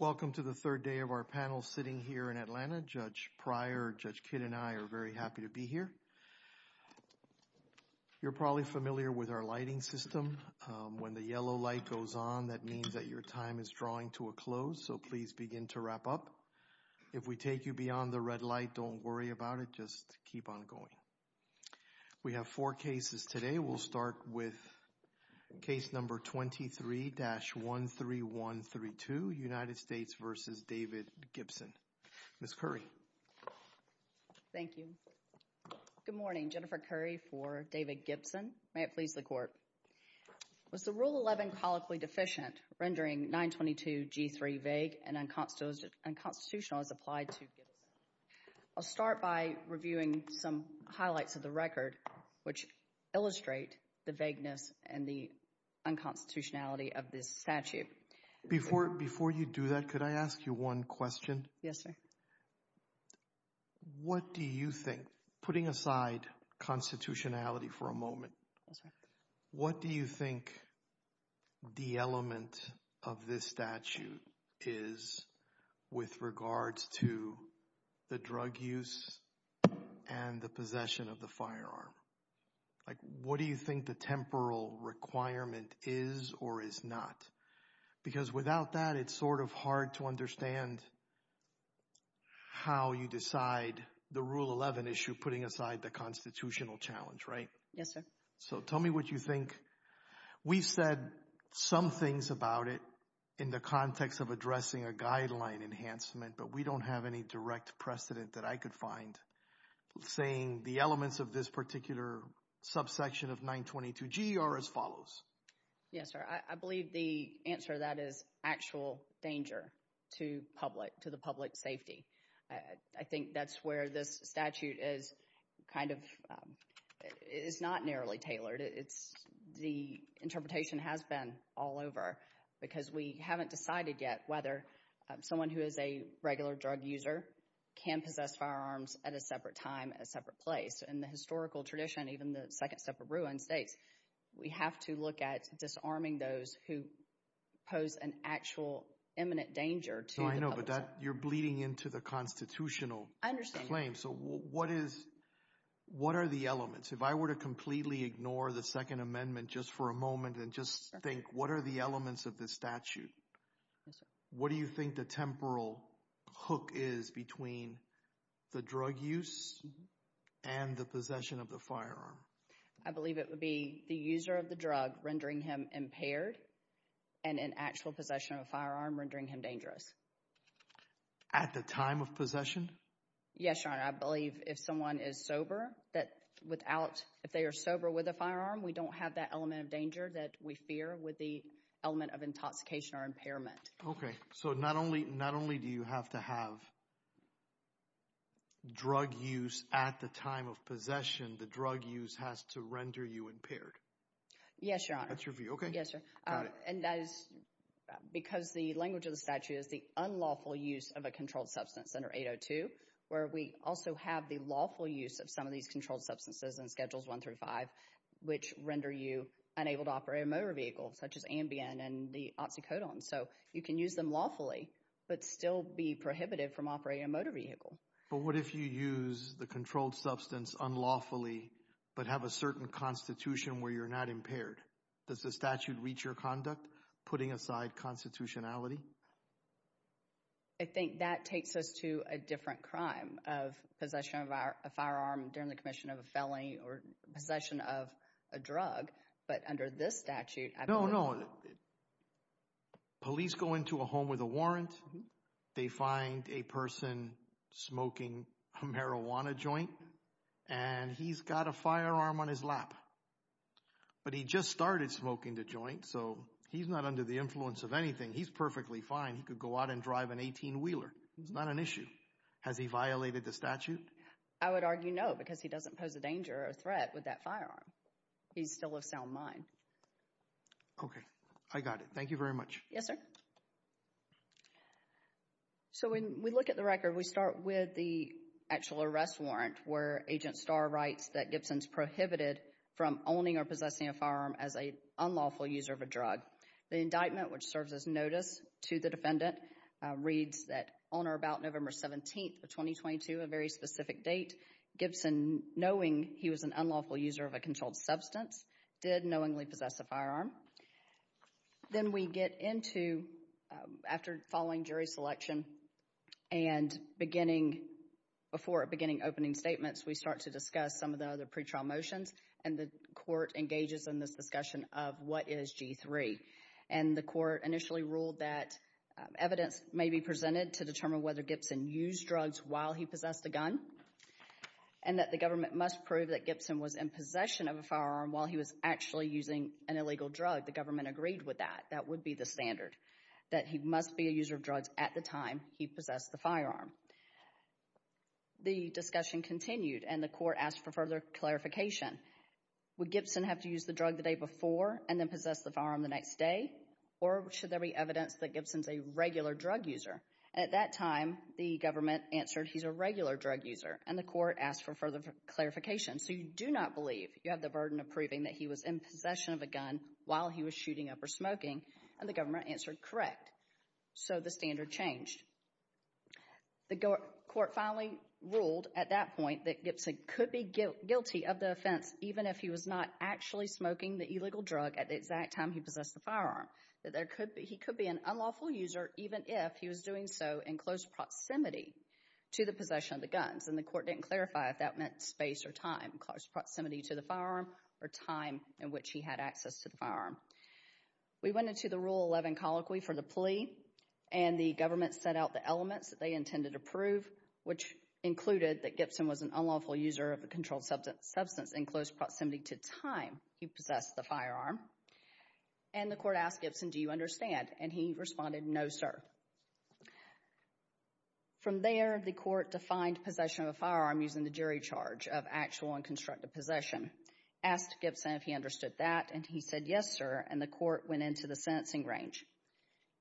Welcome to the third day of our panel sitting here in Atlanta. Judge Pryor, Judge Kidd, and I are very happy to be here. You're probably familiar with our lighting system. When the yellow light goes on, that means that your time is drawing to a close, so please begin to wrap up. If we take you beyond the red light, don't worry about it. Just keep on going. We have four cases today. We'll start with case number 23-13132, United States v. David Gibson. Ms. Curry. Thank you. Good morning. Jennifer Curry for David Gibson. May it please the Court. Was the Rule 11 colloquially deficient, rendering 922G3 vague and unconstitutional as applied to... I'll start by reviewing some highlights of the record which illustrate the vagueness and the unconstitutionality of this statute. Before you do that, could I ask you one question? Yes, sir. What do you think, putting aside constitutionality for a moment, what do you think the element of this statute is with regards to the drug use and the possession of the firearm? What do you think the temporal requirement is or is not? Because without that, it's sort of hard to understand how you decide the Rule Yes, sir. So tell me what you think. We've said some things about it in the context of addressing a guideline enhancement, but we don't have any direct precedent that I could find saying the elements of this particular subsection of 922G are as follows. Yes, sir. I believe the answer to that is actual danger to the public safety. I think that's where this statute is kind of, is not narrowly tailored. It's, the interpretation has been all over because we haven't decided yet whether someone who is a regular drug user can possess firearms at a separate time, a separate place. In the historical tradition, even the second step of Ruan states, we have to look at disarming those who pose an actual imminent danger to the public. I know, but that, you're bleeding into the constitutional claim. So what is, what are the elements? If I were to completely ignore the Second Amendment just for a moment and just think, what are the elements of this statute? What do you think the temporal hook is between the drug use and the possession of the firearm? I believe it would be the user of the drug rendering him impaired and an actual possession of a firearm rendering him dangerous. At the time of possession? Yes, Your Honor. I believe if someone is sober, that without, if they are sober with a firearm, we don't have that element of danger that we fear with the element of intoxication or impairment. Okay. So not only, not only do you have to have drug use at the time of possession, the drug use has to render you impaired. Yes, Your Honor. That's your view. Okay. Yes, sir. And that is because the language of the statute is the unlawful use of a controlled substance under 802, where we also have the lawful use of some of these controlled substances in Schedules 1 through 5, which render you unable to operate a motor vehicle such as Ambien and the Oxycodone. So you can use them lawfully, but still be prohibited from operating a motor vehicle. But what if you use the controlled substance unlawfully, but have a certain constitution where you're not impaired? Does the statute reach your conduct, putting aside constitutionality? I think that takes us to a different crime of possession of a firearm during the commission of a felony or possession of a drug. But under this statute, I believe... No, no. Police go into a home with a warrant. They find a person smoking a marijuana joint, and he's got a firearm on his lap. But he just started smoking the joint, so he's not under the influence of anything. He's perfectly fine. He could go out and drive an 18-wheeler. It's not an issue. Has he violated the statute? I would argue no, because he doesn't pose a danger or a threat with that firearm. He's still of sound mind. Okay. I got it. Thank you very much. Yes, sir. So, when we look at the record, we start with the actual arrest warrant, where Agent Starr writes that Gibson's prohibited from owning or possessing a firearm as an unlawful user of a drug. The indictment, which serves as notice to the defendant, reads that on or about November 17th of 2022, a very specific date, Gibson, knowing he was an unlawful user of a controlled substance, did knowingly possess a firearm. Then we get into, after following jury selection and beginning... Before beginning opening statements, we start to discuss some of the other pretrial motions, and the court engages in this discussion of what is G3. And the court initially ruled that evidence may be presented to determine whether Gibson used drugs while he possessed a gun, and that the government must prove that Gibson was in possession of a firearm while he was actually using an illegal drug. The government agreed with that. That would be the standard, that he must be a user of drugs at the time he possessed the firearm. The discussion continued, and the court asked for further clarification. Would Gibson have to use the drug the day before and then possess the firearm the next day, or should there be evidence that Gibson's a regular drug user? At that time, the government answered he's a regular drug user, and the court asked for further clarification. So you do not believe you have the burden of proving that he was in possession of a gun while he was shooting up or smoking, and the government answered correct. So the standard changed. The court finally ruled at that point that Gibson could be guilty of the offense even if he was not actually smoking the illegal drug at the exact time he possessed the firearm, that there could be... He could be an unlawful user even if he was doing so in close proximity to the possession of the guns, and the court didn't clarify if that meant space or time, close proximity to the firearm, or time in which he had access to the firearm. We went into the Rule 11 colloquy for the plea, and the government set out the elements that they intended to prove, which included that Gibson was an unlawful user of a controlled substance in close proximity to time he possessed the firearm, and the court asked Gibson, do you understand? And he responded, no, sir. From there, the court defined possession of a firearm using the jury charge of actual and constructive possession, asked Gibson if he understood that, and he said, yes, sir, and the court went into the sentencing range.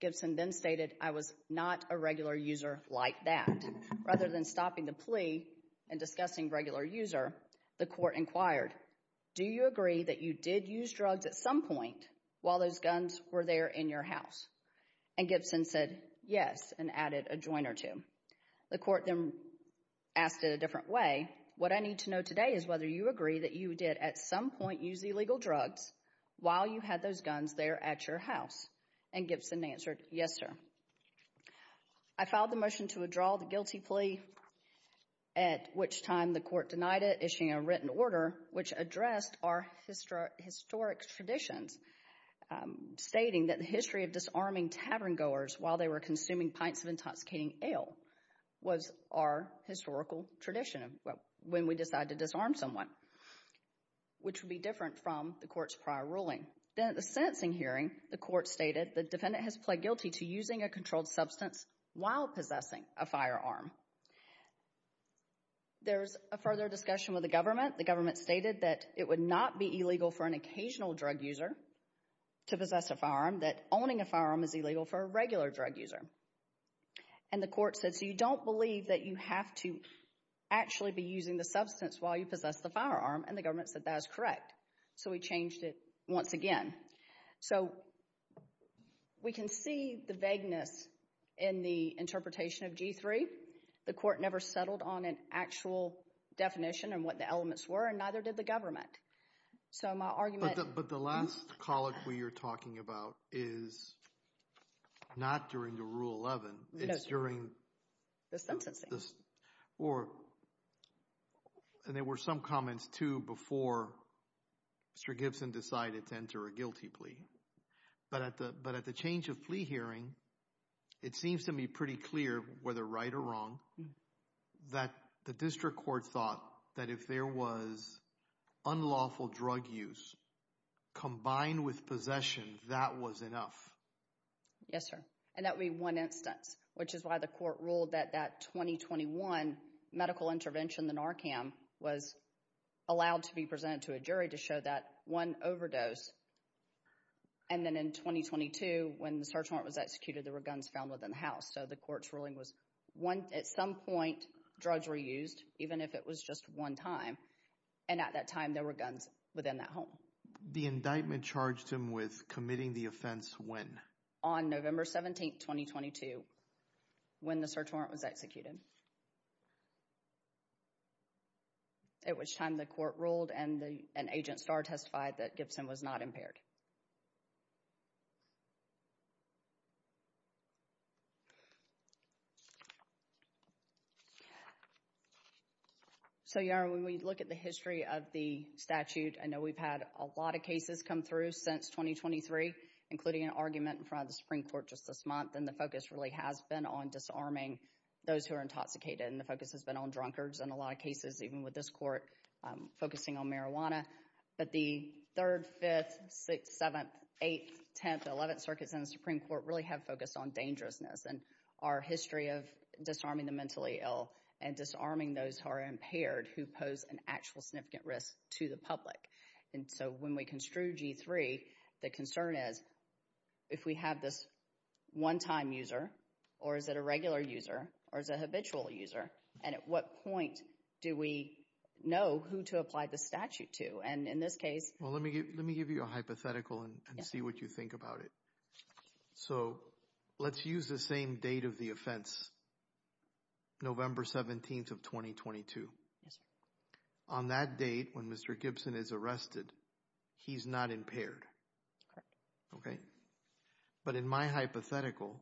Gibson then stated, I was not a regular user like that. Rather than stopping the plea and discussing regular user, the court inquired, do you agree that you did use drugs at some point while those guns were there in your house? And Gibson said, yes, and added a joint or two. The court then asked in a different way, what I need to know today is whether you agree that you did at some point use illegal drugs while you had those guns there at your house, and Gibson answered, yes, sir. I filed the motion to withdraw the guilty plea, at which time the court denied it, issuing a written order which addressed our historic traditions, stating that the history of disarming tavern goers while they were consuming pints of intoxicating ale was our historical tradition when we decided to disarm someone, which would be different from the court's prior ruling. Then at the sentencing hearing, the court stated the defendant has pled guilty to using a controlled substance while possessing a firearm. There's a further discussion with the government. The government stated that it would not be illegal for an occasional drug user to possess a firearm, that owning a firearm is illegal for a regular drug user. And the court said, so you don't believe that you have to actually be using the substance while you possess the firearm, and the government said that is correct. So we changed it once again. So we can see the vagueness in the interpretation of G3. The court never settled on an actual definition and what the elements were, and neither did the government. So my argument... But the last colloquy you're talking about is not during the Rule 11. It's during... The sentencing. Or, and there were some comments, too, before Mr. Gibson decided to enter a guilty plea. But at the change of plea hearing, it seems to me pretty clear, whether right or wrong, that the district court thought that if there was unlawful drug use combined with possession, that was enough. Yes, sir. And that would be one instance, which is why the court ruled that that 2021 medical intervention, the NARCAM, was allowed to be presented to a jury to show that one overdose. And then in 2022, when the search warrant was executed, there were guns found within the house. So the court's ruling was, at some point, drugs were used, even if it was just one time. And at that time, there were guns within that home. The indictment charged him with committing the offense when? On November 17, 2022, when the search warrant was executed, at which time the court ruled and the, and Agent Starr testified that Gibson was not impaired. So, Yara, when we look at the history of the statute, I know we've had a lot of cases come through since 2023, including an argument in front of the Supreme Court just this month. And the focus really has been on disarming those who are intoxicated. And the focus has been on drunkards in a lot of cases, even with this court focusing on marijuana. But the 3rd, 5th, 6th, 7th, 8th, 10th, 11th circuits in the Supreme Court really have focused on dangerousness and our history of disarming the mentally ill and disarming those who are impaired, who pose an actual significant risk to the public. And so when we construe G3, the concern is, if we have this one time user, or is it a habitual user? And at what point do we know who to apply the statute to? And in this case, well, let me give you a hypothetical and see what you think about it. So let's use the same date of the offense, November 17th of 2022. On that date, when Mr. Gibson is arrested, he's not impaired. Okay. But in my hypothetical,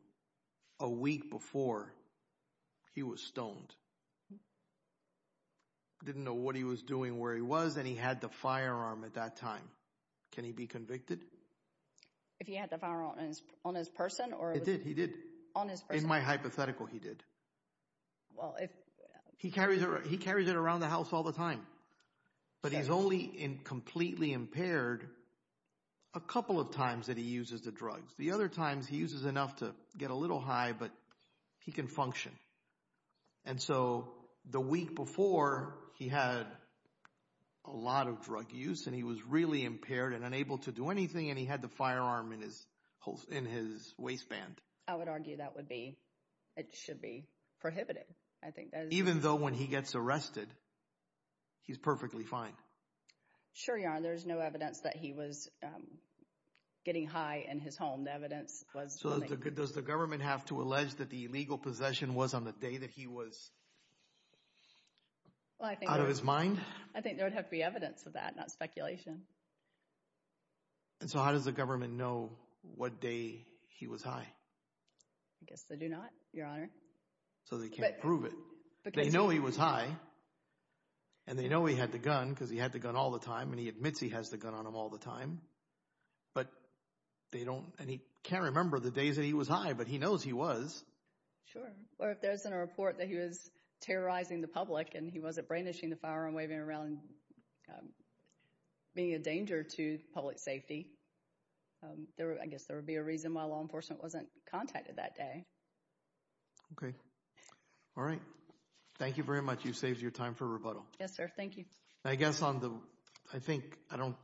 a week before he was stoned. Didn't know what he was doing, where he was, and he had the firearm at that time. Can he be convicted? If he had the firearm on his person? It did, he did. On his person? In my hypothetical, he did. He carries it around the house all the time. But he's only completely impaired a couple of times that he uses the drugs. The other times he uses enough to get a little high, but he can function. And so the week before he had a lot of drug use, and he was really impaired and unable to do anything, and he had the firearm in his waistband. I would argue that would be, it should be prohibited. I think that is... Even though when he gets arrested, he's perfectly fine. Sure you are. There's no evidence that he was getting high in his home. The evidence was... So does the government have to allege that the illegal possession was on the day that he was out of his mind? I think there would have to be evidence of that, not speculation. And so how does the government know what day he was high? I guess they do not, Your Honor. So they can't prove it. They know he was high, and they know he had the gun because he had the gun all the time, and he admits he has the gun on him all the time. But they don't... And he can't remember the days that he was high, but he knows he was. Sure. Or if there's a report that he was terrorizing the public and he wasn't brainwashing the firearm, waving it around, being a danger to public safety, I guess there would be a reason why law enforcement wasn't contacted that day. Okay. All right. Thank you very much. You've saved your time for rebuttal. Yes, sir. Thank you. I guess on the... I think I don't...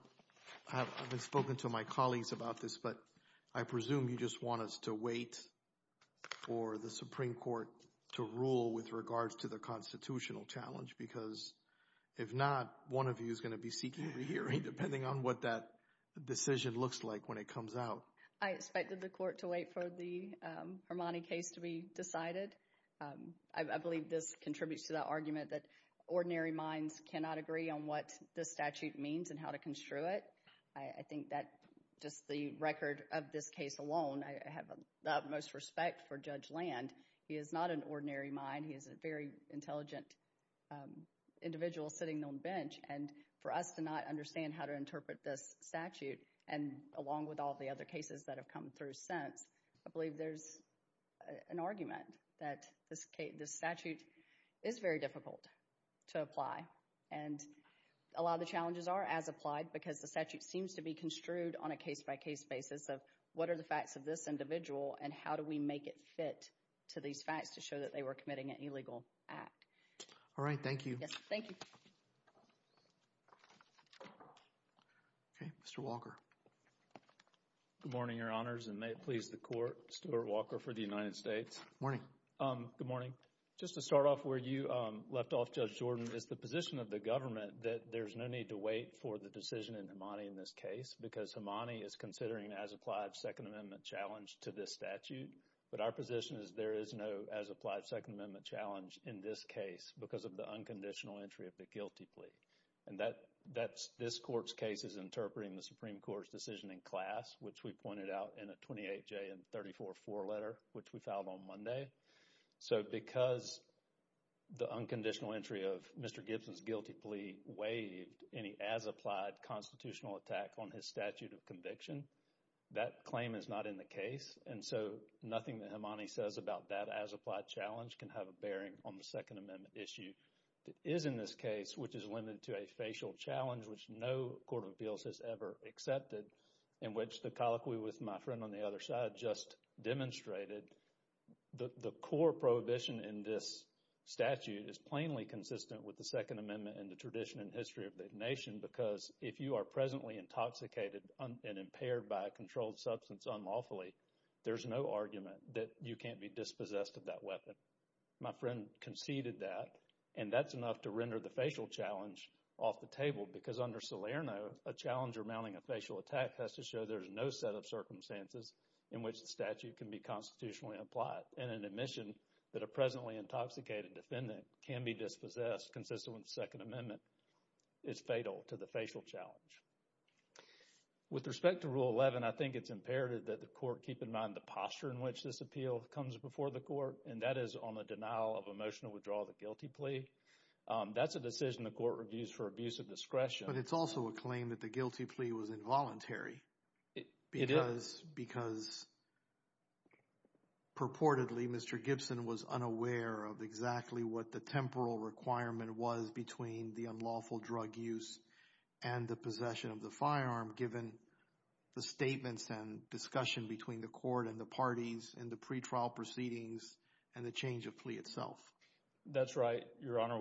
I haven't spoken to my colleagues about this, but I presume you just want us to wait for the Supreme Court to rule with regards to the constitutional challenge, because if not, one of you is going to be seeking a re-hearing, depending on what that decision looks like when it comes out. I expected the court to wait for the Hermanni case to be decided. I believe this contributes to the argument that ordinary minds cannot agree on what the statute means and how to construe it. I think that just the record of this case alone, I have the utmost respect for Judge Land. He is not an ordinary mind. He is a very intelligent individual sitting on the bench. And for us to not understand how to interpret this statute, and along with all the other cases that have come through since, I believe there's an argument that this statute is very difficult to apply. And a lot of the challenges are as applied, because the statute seems to be construed on a case-by-case basis of what are the facts of this individual and how do we make it fit to these facts to show that they were committing an illegal act. All right. Thank you. Yes. Thank you. Okay. Mr. Walker. Good morning, Your Honors, and may it please the Court, Stuart Walker for the United States. Good morning. Good morning. Just to start off where you left off, Judge Jordan, is the position of the government that there's no need to wait for the decision in Himani in this case because Himani is considering an as-applied Second Amendment challenge to this statute. But our position is there is no as-applied Second Amendment challenge in this case because of the unconditional entry of the guilty plea. And that's this Court's case is interpreting the Supreme Court's decision in class, which we pointed out in a 28-J and 34-4 letter, which we filed on Monday. So because the unconditional entry of Mr. Gibson's guilty plea waived any as-applied constitutional attack on his statute of conviction, that claim is not in the case. And so nothing that Himani says about that as-applied challenge can have a bearing on the Second Amendment issue that is in this case, which is limited to a facial challenge, which no Court of Appeals has ever accepted, in which the colloquy with my friend on the other side just demonstrated the core prohibition in this statute is plainly consistent with the Second Amendment and the tradition and history of the nation because if you are presently intoxicated and impaired by a controlled substance unlawfully, there's no argument that you can't be dispossessed of that weapon. My friend conceded that, and that's enough to render the facial challenge off the table because under Salerno, a challenge remounting a facial attack has to show there's no set of circumstances in which the statute can be constitutionally applied, and an admission that a presently intoxicated defendant can be dispossessed consistent with the Second Amendment is fatal to the facial challenge. With respect to Rule 11, I think it's imperative that the Court keep in mind the posture in which this appeal comes before the Court, and that is on the denial of a motion to withdraw the guilty plea. That's a decision the Court reviews for discretion. But it's also a claim that the guilty plea was involuntary. It is. Because purportedly, Mr. Gibson was unaware of exactly what the temporal requirement was between the unlawful drug use and the possession of the firearm given the statements and discussion between the Court and the parties in the pretrial proceedings and the change of plea itself. That's right, Your Honor.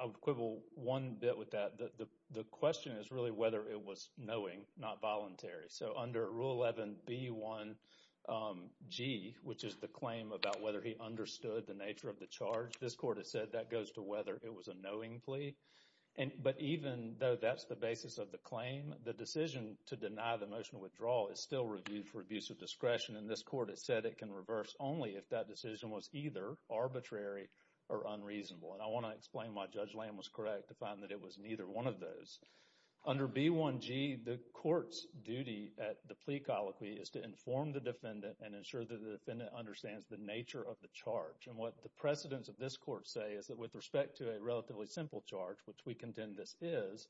I would quibble one bit with that. The question is really whether it was knowing, not voluntary. So, under Rule 11B1G, which is the claim about whether he understood the nature of the charge, this Court has said that goes to whether it was a knowing plea. But even though that's the basis of the claim, the decision to deny the motion of withdrawal is still reviewed for abuse of discretion, and this Court has said it can reverse only if that decision was either arbitrary or unreasonable. And I want to explain why Judge Lamb was correct to find that it was neither one of those. Under B1G, the Court's duty at the plea colloquy is to inform the defendant and ensure that the defendant understands the nature of the charge. And what the precedents of this Court say is that with respect to a relatively simple charge, which we contend this is,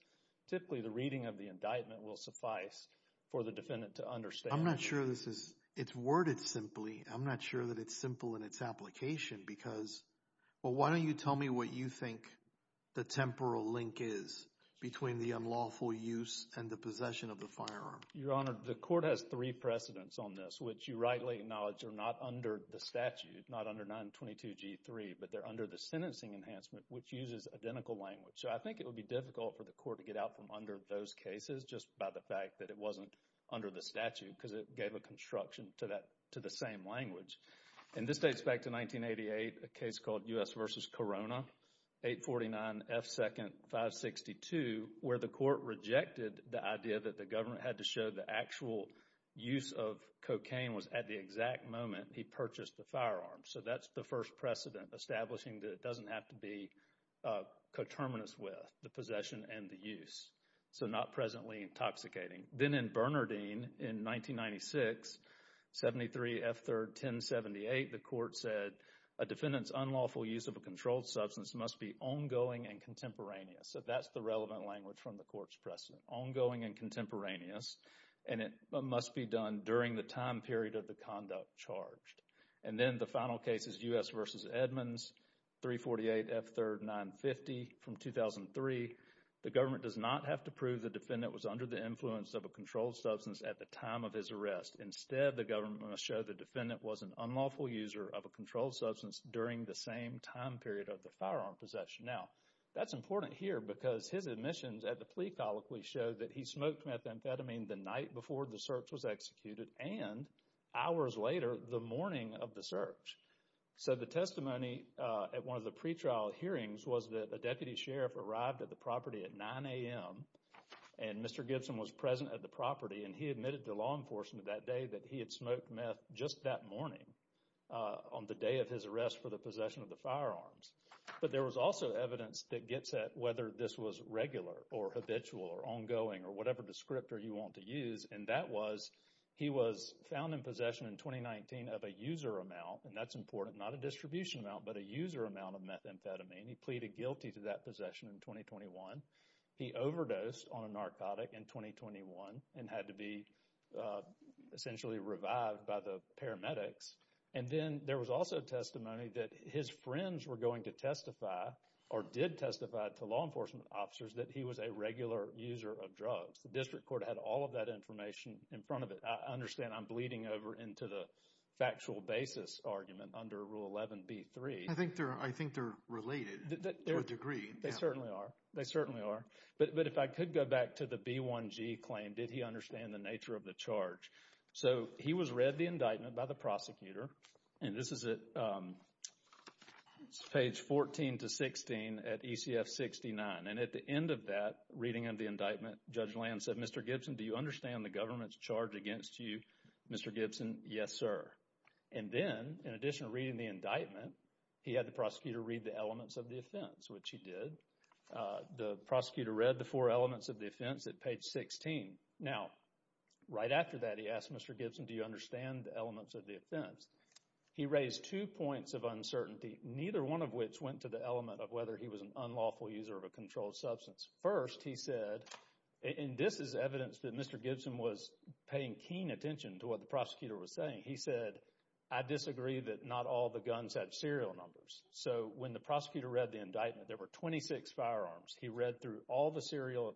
typically the reading of the indictment will suffice for the defendant to understand. I'm not sure this is, it's worded simply. I'm not sure that it's simple in its application because, well, why don't you tell me what you think the temporal link is between the unlawful use and the possession of the firearm? Your Honor, the Court has three precedents on this, which you rightly acknowledge are not under the statute, not under 922G3, but they're under the sentencing enhancement, which uses identical language. So, I think it would be difficult for the Court to get out from under those cases just by the fact that it wasn't under the statute, because it gave a construction to that, to the same language. And this dates back to 1988, a case called U.S. v. Corona, 849F2nd562, where the Court rejected the idea that the government had to show the actual use of cocaine was at the exact moment he purchased the firearm. So, that's the first precedent establishing that it doesn't have to be coterminous with the possession and the use. So, not presently intoxicating. Then in Bernardine in 1996, 73F3rd1078, the Court said a defendant's unlawful use of a controlled substance must be ongoing and contemporaneous. So, that's the relevant language from the Court's precedent, ongoing and contemporaneous, and it must be done during the time period of the conduct charged. And then the final case is U.S. v. Edmonds, 348F3rd950 from 2003. The government does not have to prove the defendant was under the influence of a controlled substance at the time of his arrest. Instead, the government must show the defendant was an unlawful user of a controlled substance during the same time period of the firearm possession. Now, that's important here because his admissions at the plea colloquy show that he smoked methamphetamine the night before the search was executed and hours later the morning of the search. So, the testimony at one of the pretrial hearings was that a deputy sheriff arrived at the property at 9 a.m. and Mr. Gibson was present at the property and he admitted to law enforcement that day that he had smoked meth just that morning on the day of his arrest for the possession of the firearms. But there was also evidence that gets at whether this was regular or habitual or ongoing or whatever descriptor you want to use, and that was he was found in possession in 2019 of a user amount, and that's important, not a distribution amount, but a user amount of methamphetamine. He pleaded guilty to that possession in 2021. He overdosed on a narcotic in 2021 and had to be essentially revived by the paramedics, and then there was also testimony that his friends were going to testify or did testify to law enforcement officers that he was a regular user of drugs. The district court had all of that in front of it. I understand I'm bleeding over into the factual basis argument under Rule 11b-3. I think they're related to a degree. They certainly are. They certainly are, but if I could go back to the B1G claim, did he understand the nature of the charge? So, he was read the indictment by the prosecutor, and this is at page 14 to 16 at ECF 69, and at the end of that reading of the government's charge against you, Mr. Gibson, yes, sir, and then in addition to reading the indictment, he had the prosecutor read the elements of the offense, which he did. The prosecutor read the four elements of the offense at page 16. Now, right after that, he asked Mr. Gibson, do you understand the elements of the offense? He raised two points of uncertainty, neither one of which went to the element of whether he was an unlawful user of a controlled substance. First, he said, and this is evidence that Mr. Gibson was paying keen attention to what the prosecutor was saying, he said, I disagree that not all the guns have serial numbers. So, when the prosecutor read the indictment, there were 26 firearms. He read through all the serial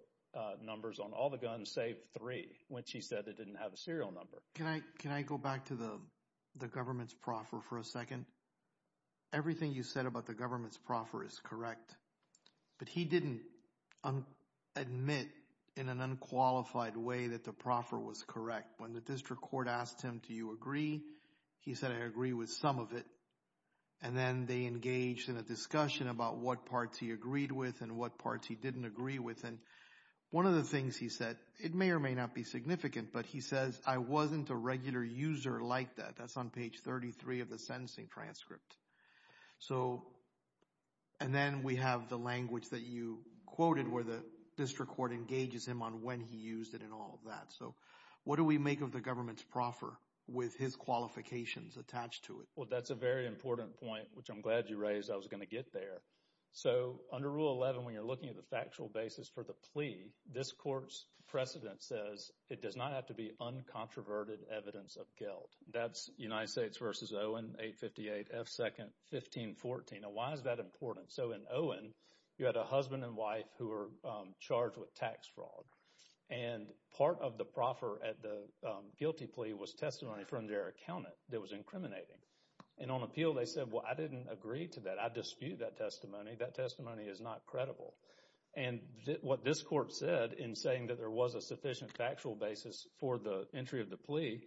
numbers on all the guns, save three, which he said that didn't have a serial number. Can I go back to the government's proffer for a second? Everything you said about the government's proffer is correct, but he didn't admit in an unqualified way that the proffer was correct. When the district court asked him, do you agree? He said, I agree with some of it, and then they engaged in a discussion about what parts he agreed with and what parts he didn't agree with, and one of the things he said, it may or may not be significant, but he says, I wasn't a regular user like that. That's on page 33 of the sentencing transcript. So, and then we have the language that you quoted where the district court engages him on when he used it and all of that. So, what do we make of the government's proffer with his qualifications attached to it? Well, that's a very important point, which I'm glad you raised. I was going to get there. So, under Rule 11, when you're looking at the factual basis for the plea, this court's precedent says it does not have to be uncontroverted evidence of guilt. That's United States v. Owen, 858 F. 2nd, 1514. Now, why is that important? So, in Owen, you had a husband and wife who were charged with tax fraud, and part of the proffer at the guilty plea was testimony from their accountant that was incriminating, and on appeal, they said, well, I didn't agree to that. I dispute that testimony. That testimony is not credible, and what this court said in saying that there was a sufficient factual basis for the entry of the plea,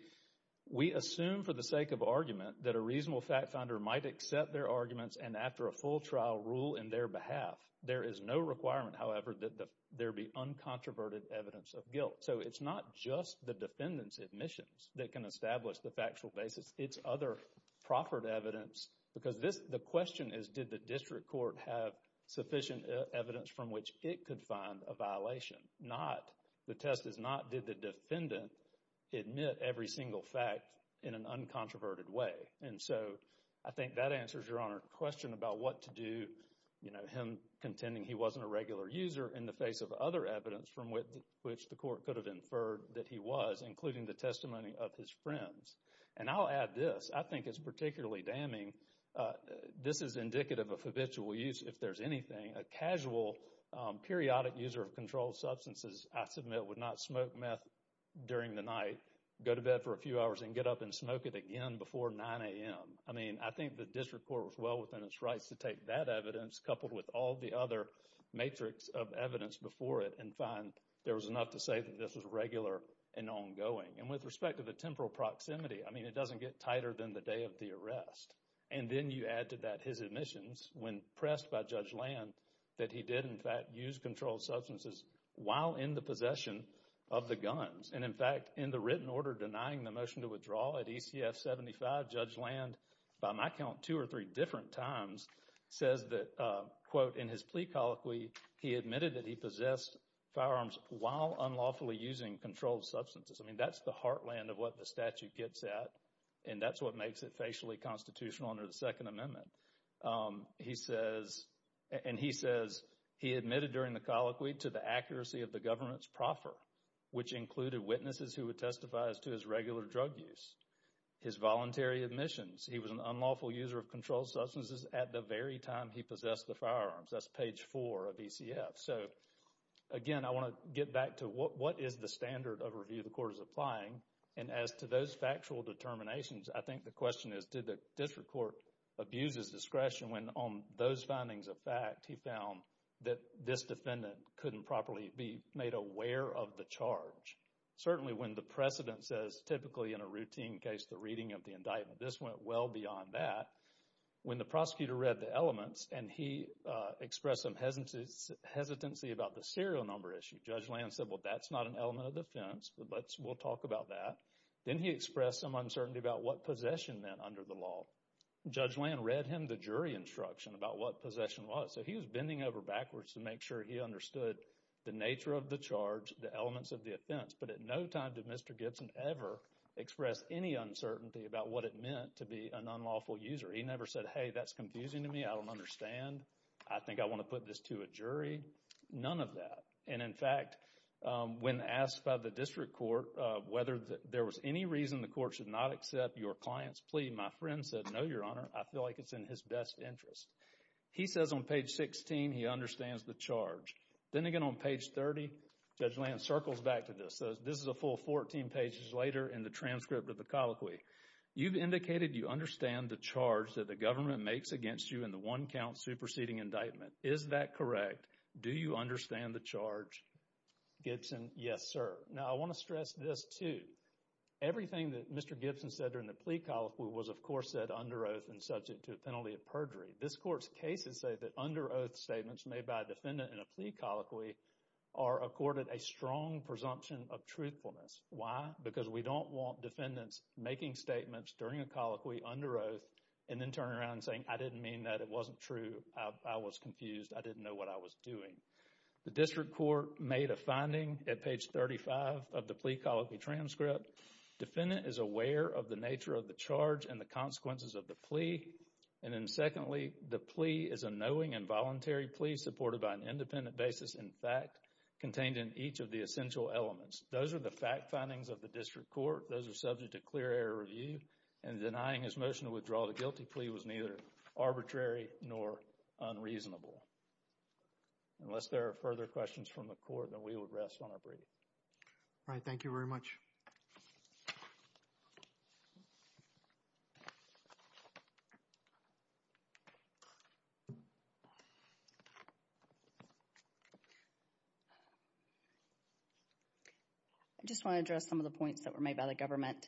we assume for the sake of argument that a reasonable fact finder might accept their arguments and after a full trial, rule in their behalf. There is no requirement, however, that there be uncontroverted evidence of guilt. So, it's not just the defendant's admissions that can establish the factual basis. It's other proffered evidence, because the question is, did the district court have sufficient evidence from which it could find a violation? The test is not, did the defendant admit every single fact in an uncontroverted way? And so, I think that answers Your Honor's question about what to do, you know, him contending he wasn't a regular user in the face of other evidence from which the court could have inferred that he was, including the testimony of his friends. And I'll add this. I think it's particularly damning. This is indicative of habitual use, if there's anything. A casual, periodic user of controlled substances, I submit, would not smoke meth during the night, go to bed for a few hours and get up and smoke it again before 9 a.m. I mean, I think the district court was well within its rights to take that evidence coupled with all the other matrix of evidence before it and find there was enough to say that this was regular and ongoing. And with respect to the temporal proximity, I mean, it doesn't get tighter than the day of the arrest. And then you add to that his admissions when pressed by Judge Land that he did, in fact, use controlled substances while in the possession of the guns. And, in fact, in the written order denying the motion to withdraw at ECF-75, Judge Land, by my count, two or three different times says that, quote, in his plea colloquy, he admitted that he possessed firearms while unlawfully using controlled substances. I mean, that's the heartland of what the statute gets at, and that's what makes it facially constitutional under the Second Amendment. He says, and he says he admitted during the colloquy to the accuracy of the government's proffer, which included witnesses who would testify as to his regular drug use, his voluntary admissions. He was an unlawful user of controlled substances at the very time he possessed the firearms. That's page four of ECF. So, again, I want to get back to what is the standard of review the court is applying. And as to those factual determinations, I think the question is, did the district court abuse his discretion when, on those findings of fact, he found that this defendant couldn't properly be made aware of the charge? Certainly, when the precedent says, typically in a routine case, the reading of the indictment, this went well beyond that. When the prosecutor read the elements and he expressed some hesitancy about the serial number issue, Judge Land said, well, that's not an element of defense, but let's, we'll talk about that. Then he expressed some uncertainty about what possession meant under the law. Judge Land read him the jury instruction about what possession was. So, he was bending over backwards to make sure he understood the nature of the charge, the elements of the offense, but at no time did Mr. Gibson ever express any uncertainty about what it meant to be an unlawful user. He never said, hey, that's confusing to me. I don't understand. I think I want to put this to a jury. None of that. And in fact, when asked by the district court whether there was any reason the court should not accept your client's plea, my friend said, no, your honor, I feel like it's in his best interest. He says on page 16 he understands the charge. Then again on page 30, Judge Land circles back to this. This is a full 14 pages later in the transcript of the colloquy. You've indicated you understand the charge that the government makes against you in the one count superseding indictment. Is that correct? Do you understand the charge? Gibson, yes, sir. Now, I want to stress this too. Everything that Mr. Gibson said during the plea colloquy was, of course, said under oath and subject to a penalty of perjury. This court's cases say that under oath statements made by a defendant in a plea colloquy are accorded a strong presumption of truthfulness. Why? Because we don't want defendants making statements during a colloquy under oath and then turning around and saying, I didn't mean that. It wasn't true. I was confused. I didn't know what I was doing. The district court made a finding at page 35 of the plea colloquy transcript. Defendant is aware of the nature of the charge and the consequences of the plea. And then secondly, the plea is a knowing and voluntary plea supported by an independent basis in fact contained in each of the essential elements. Those are the fact findings of the district court. Those are subject to clear review and denying his motion to withdraw the guilty plea was neither arbitrary nor unreasonable. Unless there are further questions from the court, then we will rest on our breath. All right. Thank you very much. I just want to address some of the points that were made by the government.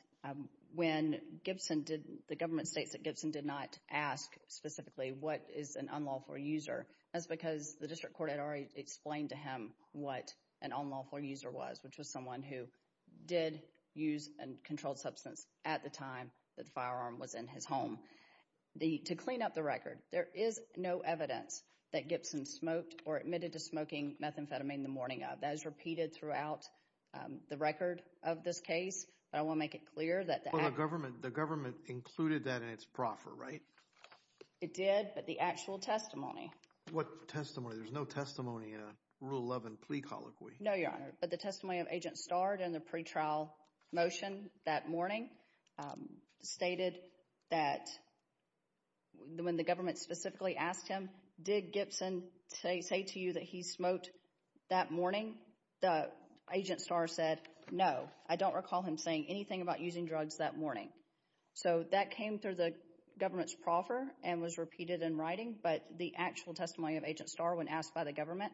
When the government states that Gibson did not ask specifically what is an unlawful user, that's because the district court had already explained to him what an unlawful user was, which was someone who did use a controlled substance at the time the firearm was in his home. To clean up the record, there is no evidence that Gibson smoked or admitted to smoking methamphetamine the morning of. That is repeated throughout the record of this case. But I want to make it clear that the government, the government included that in its proffer, right? It did, but the actual testimony. What testimony? There's no testimony in a Rule 11 plea colloquy. No, your honor. But the testimony of Agent Starr in the pre-trial motion that morning stated that when the government specifically asked him, did Gibson say to you that he smoked that morning? The Agent Starr said, no. I don't recall him saying anything about using drugs that morning. So that came through the government's proffer and was repeated in writing, but the actual testimony of Agent Starr when asked by the government,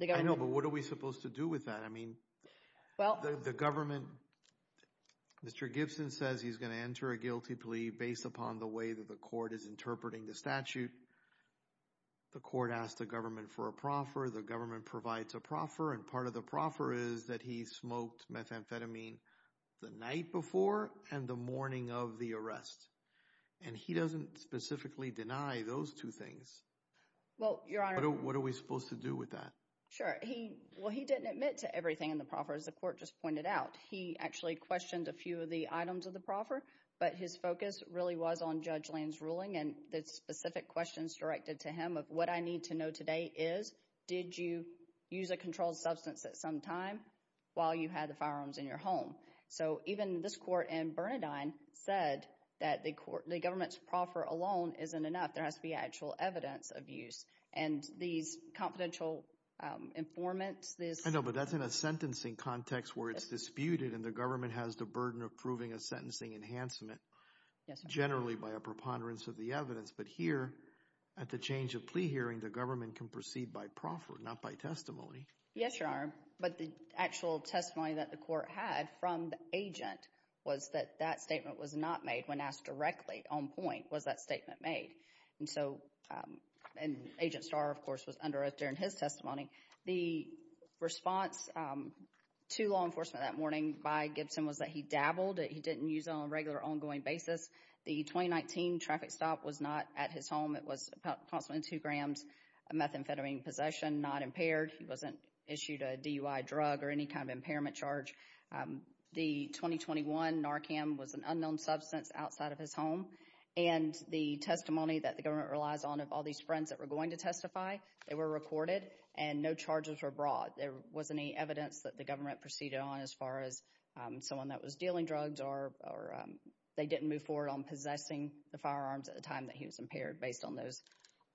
I know, but what are we supposed to do with that? I mean, well, the government, Mr. Gibson says he's going to enter a guilty plea based upon the way that the court is interpreting the statute. The court asked the government for a proffer. The government provides a proffer, and part of the proffer is that he smoked methamphetamine the night before and the morning of the arrest. And he doesn't specifically deny those two things. Well, your honor. What are we supposed to do with that? Sure. He, well, he didn't admit to everything in the proffer, as the court just pointed out. He actually questioned a few of the items of the proffer, but his focus really was on Judge Lane's ruling and the specific questions directed to him of what I need to know today is, did you use a controlled substance at some time while you had the firearms in your home? So even this court and Bernadine said that the court, the government's proffer alone isn't enough. There has to be actual evidence of use. And these confidential informants. I know, but that's in a sentencing context where it's disputed and the government has the burden of proving a sentencing enhancement, generally by a preponderance of the evidence. But here, at the change of plea hearing, the government can proceed by proffer, not by testimony. Yes, your honor. But the actual testimony that the court had from the agent was that that statement was not made when asked directly on point. Was that statement made? And so, and Agent Starr, of course, was under oath during his testimony. The response to law enforcement that morning by Gibson was that he dabbled. He didn't use it on a regular, ongoing basis. The 2019 traffic stop was not at his home. It was approximately 2 grams of methamphetamine possession, not impaired. He wasn't issued a DUI drug or any kind of impairment charge. The 2021 Narcam was an unknown substance outside of his home. And the testimony that the government relies on of all these friends that were going to testify, they were recorded and no charges were brought. There wasn't any evidence that the government proceeded on as far as someone that was dealing drugs or they didn't move forward on possessing the firearms at the time that he was impaired based on those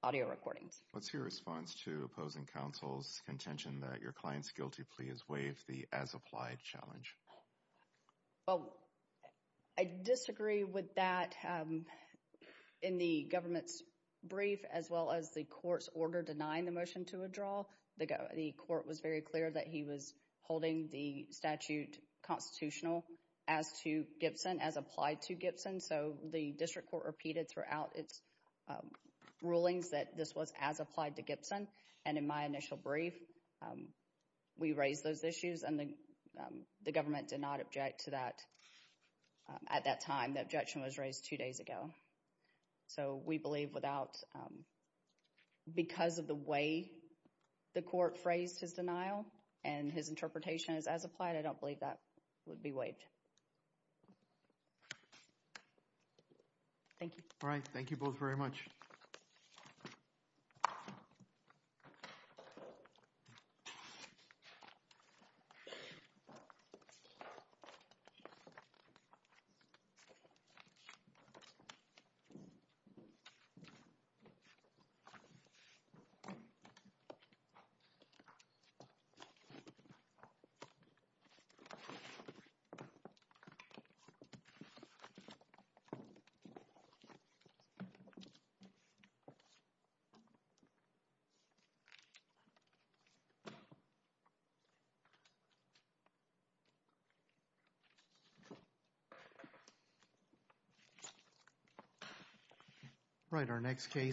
audio recordings. What's your response to opposing counsel's contention that your client's guilty plea is waived, the as-applied challenge? Well, I disagree with that. In the government's brief, as well as the court's order denying the motion to withdraw, the court was very clear that he was holding the statute constitutional as to Gibson, as applied to Gibson. So, the district court repeated throughout its rulings that this was as applied to Gibson. And in my initial brief, we raised those issues and the government did not object to that at that time. The objection was raised two days ago. So, we believe without, because of the way the court phrased his denial and his interpretation is as applied, I don't believe that would be waived. Thank you. All right. Thank you both very much. Thank you. All right. Our next case.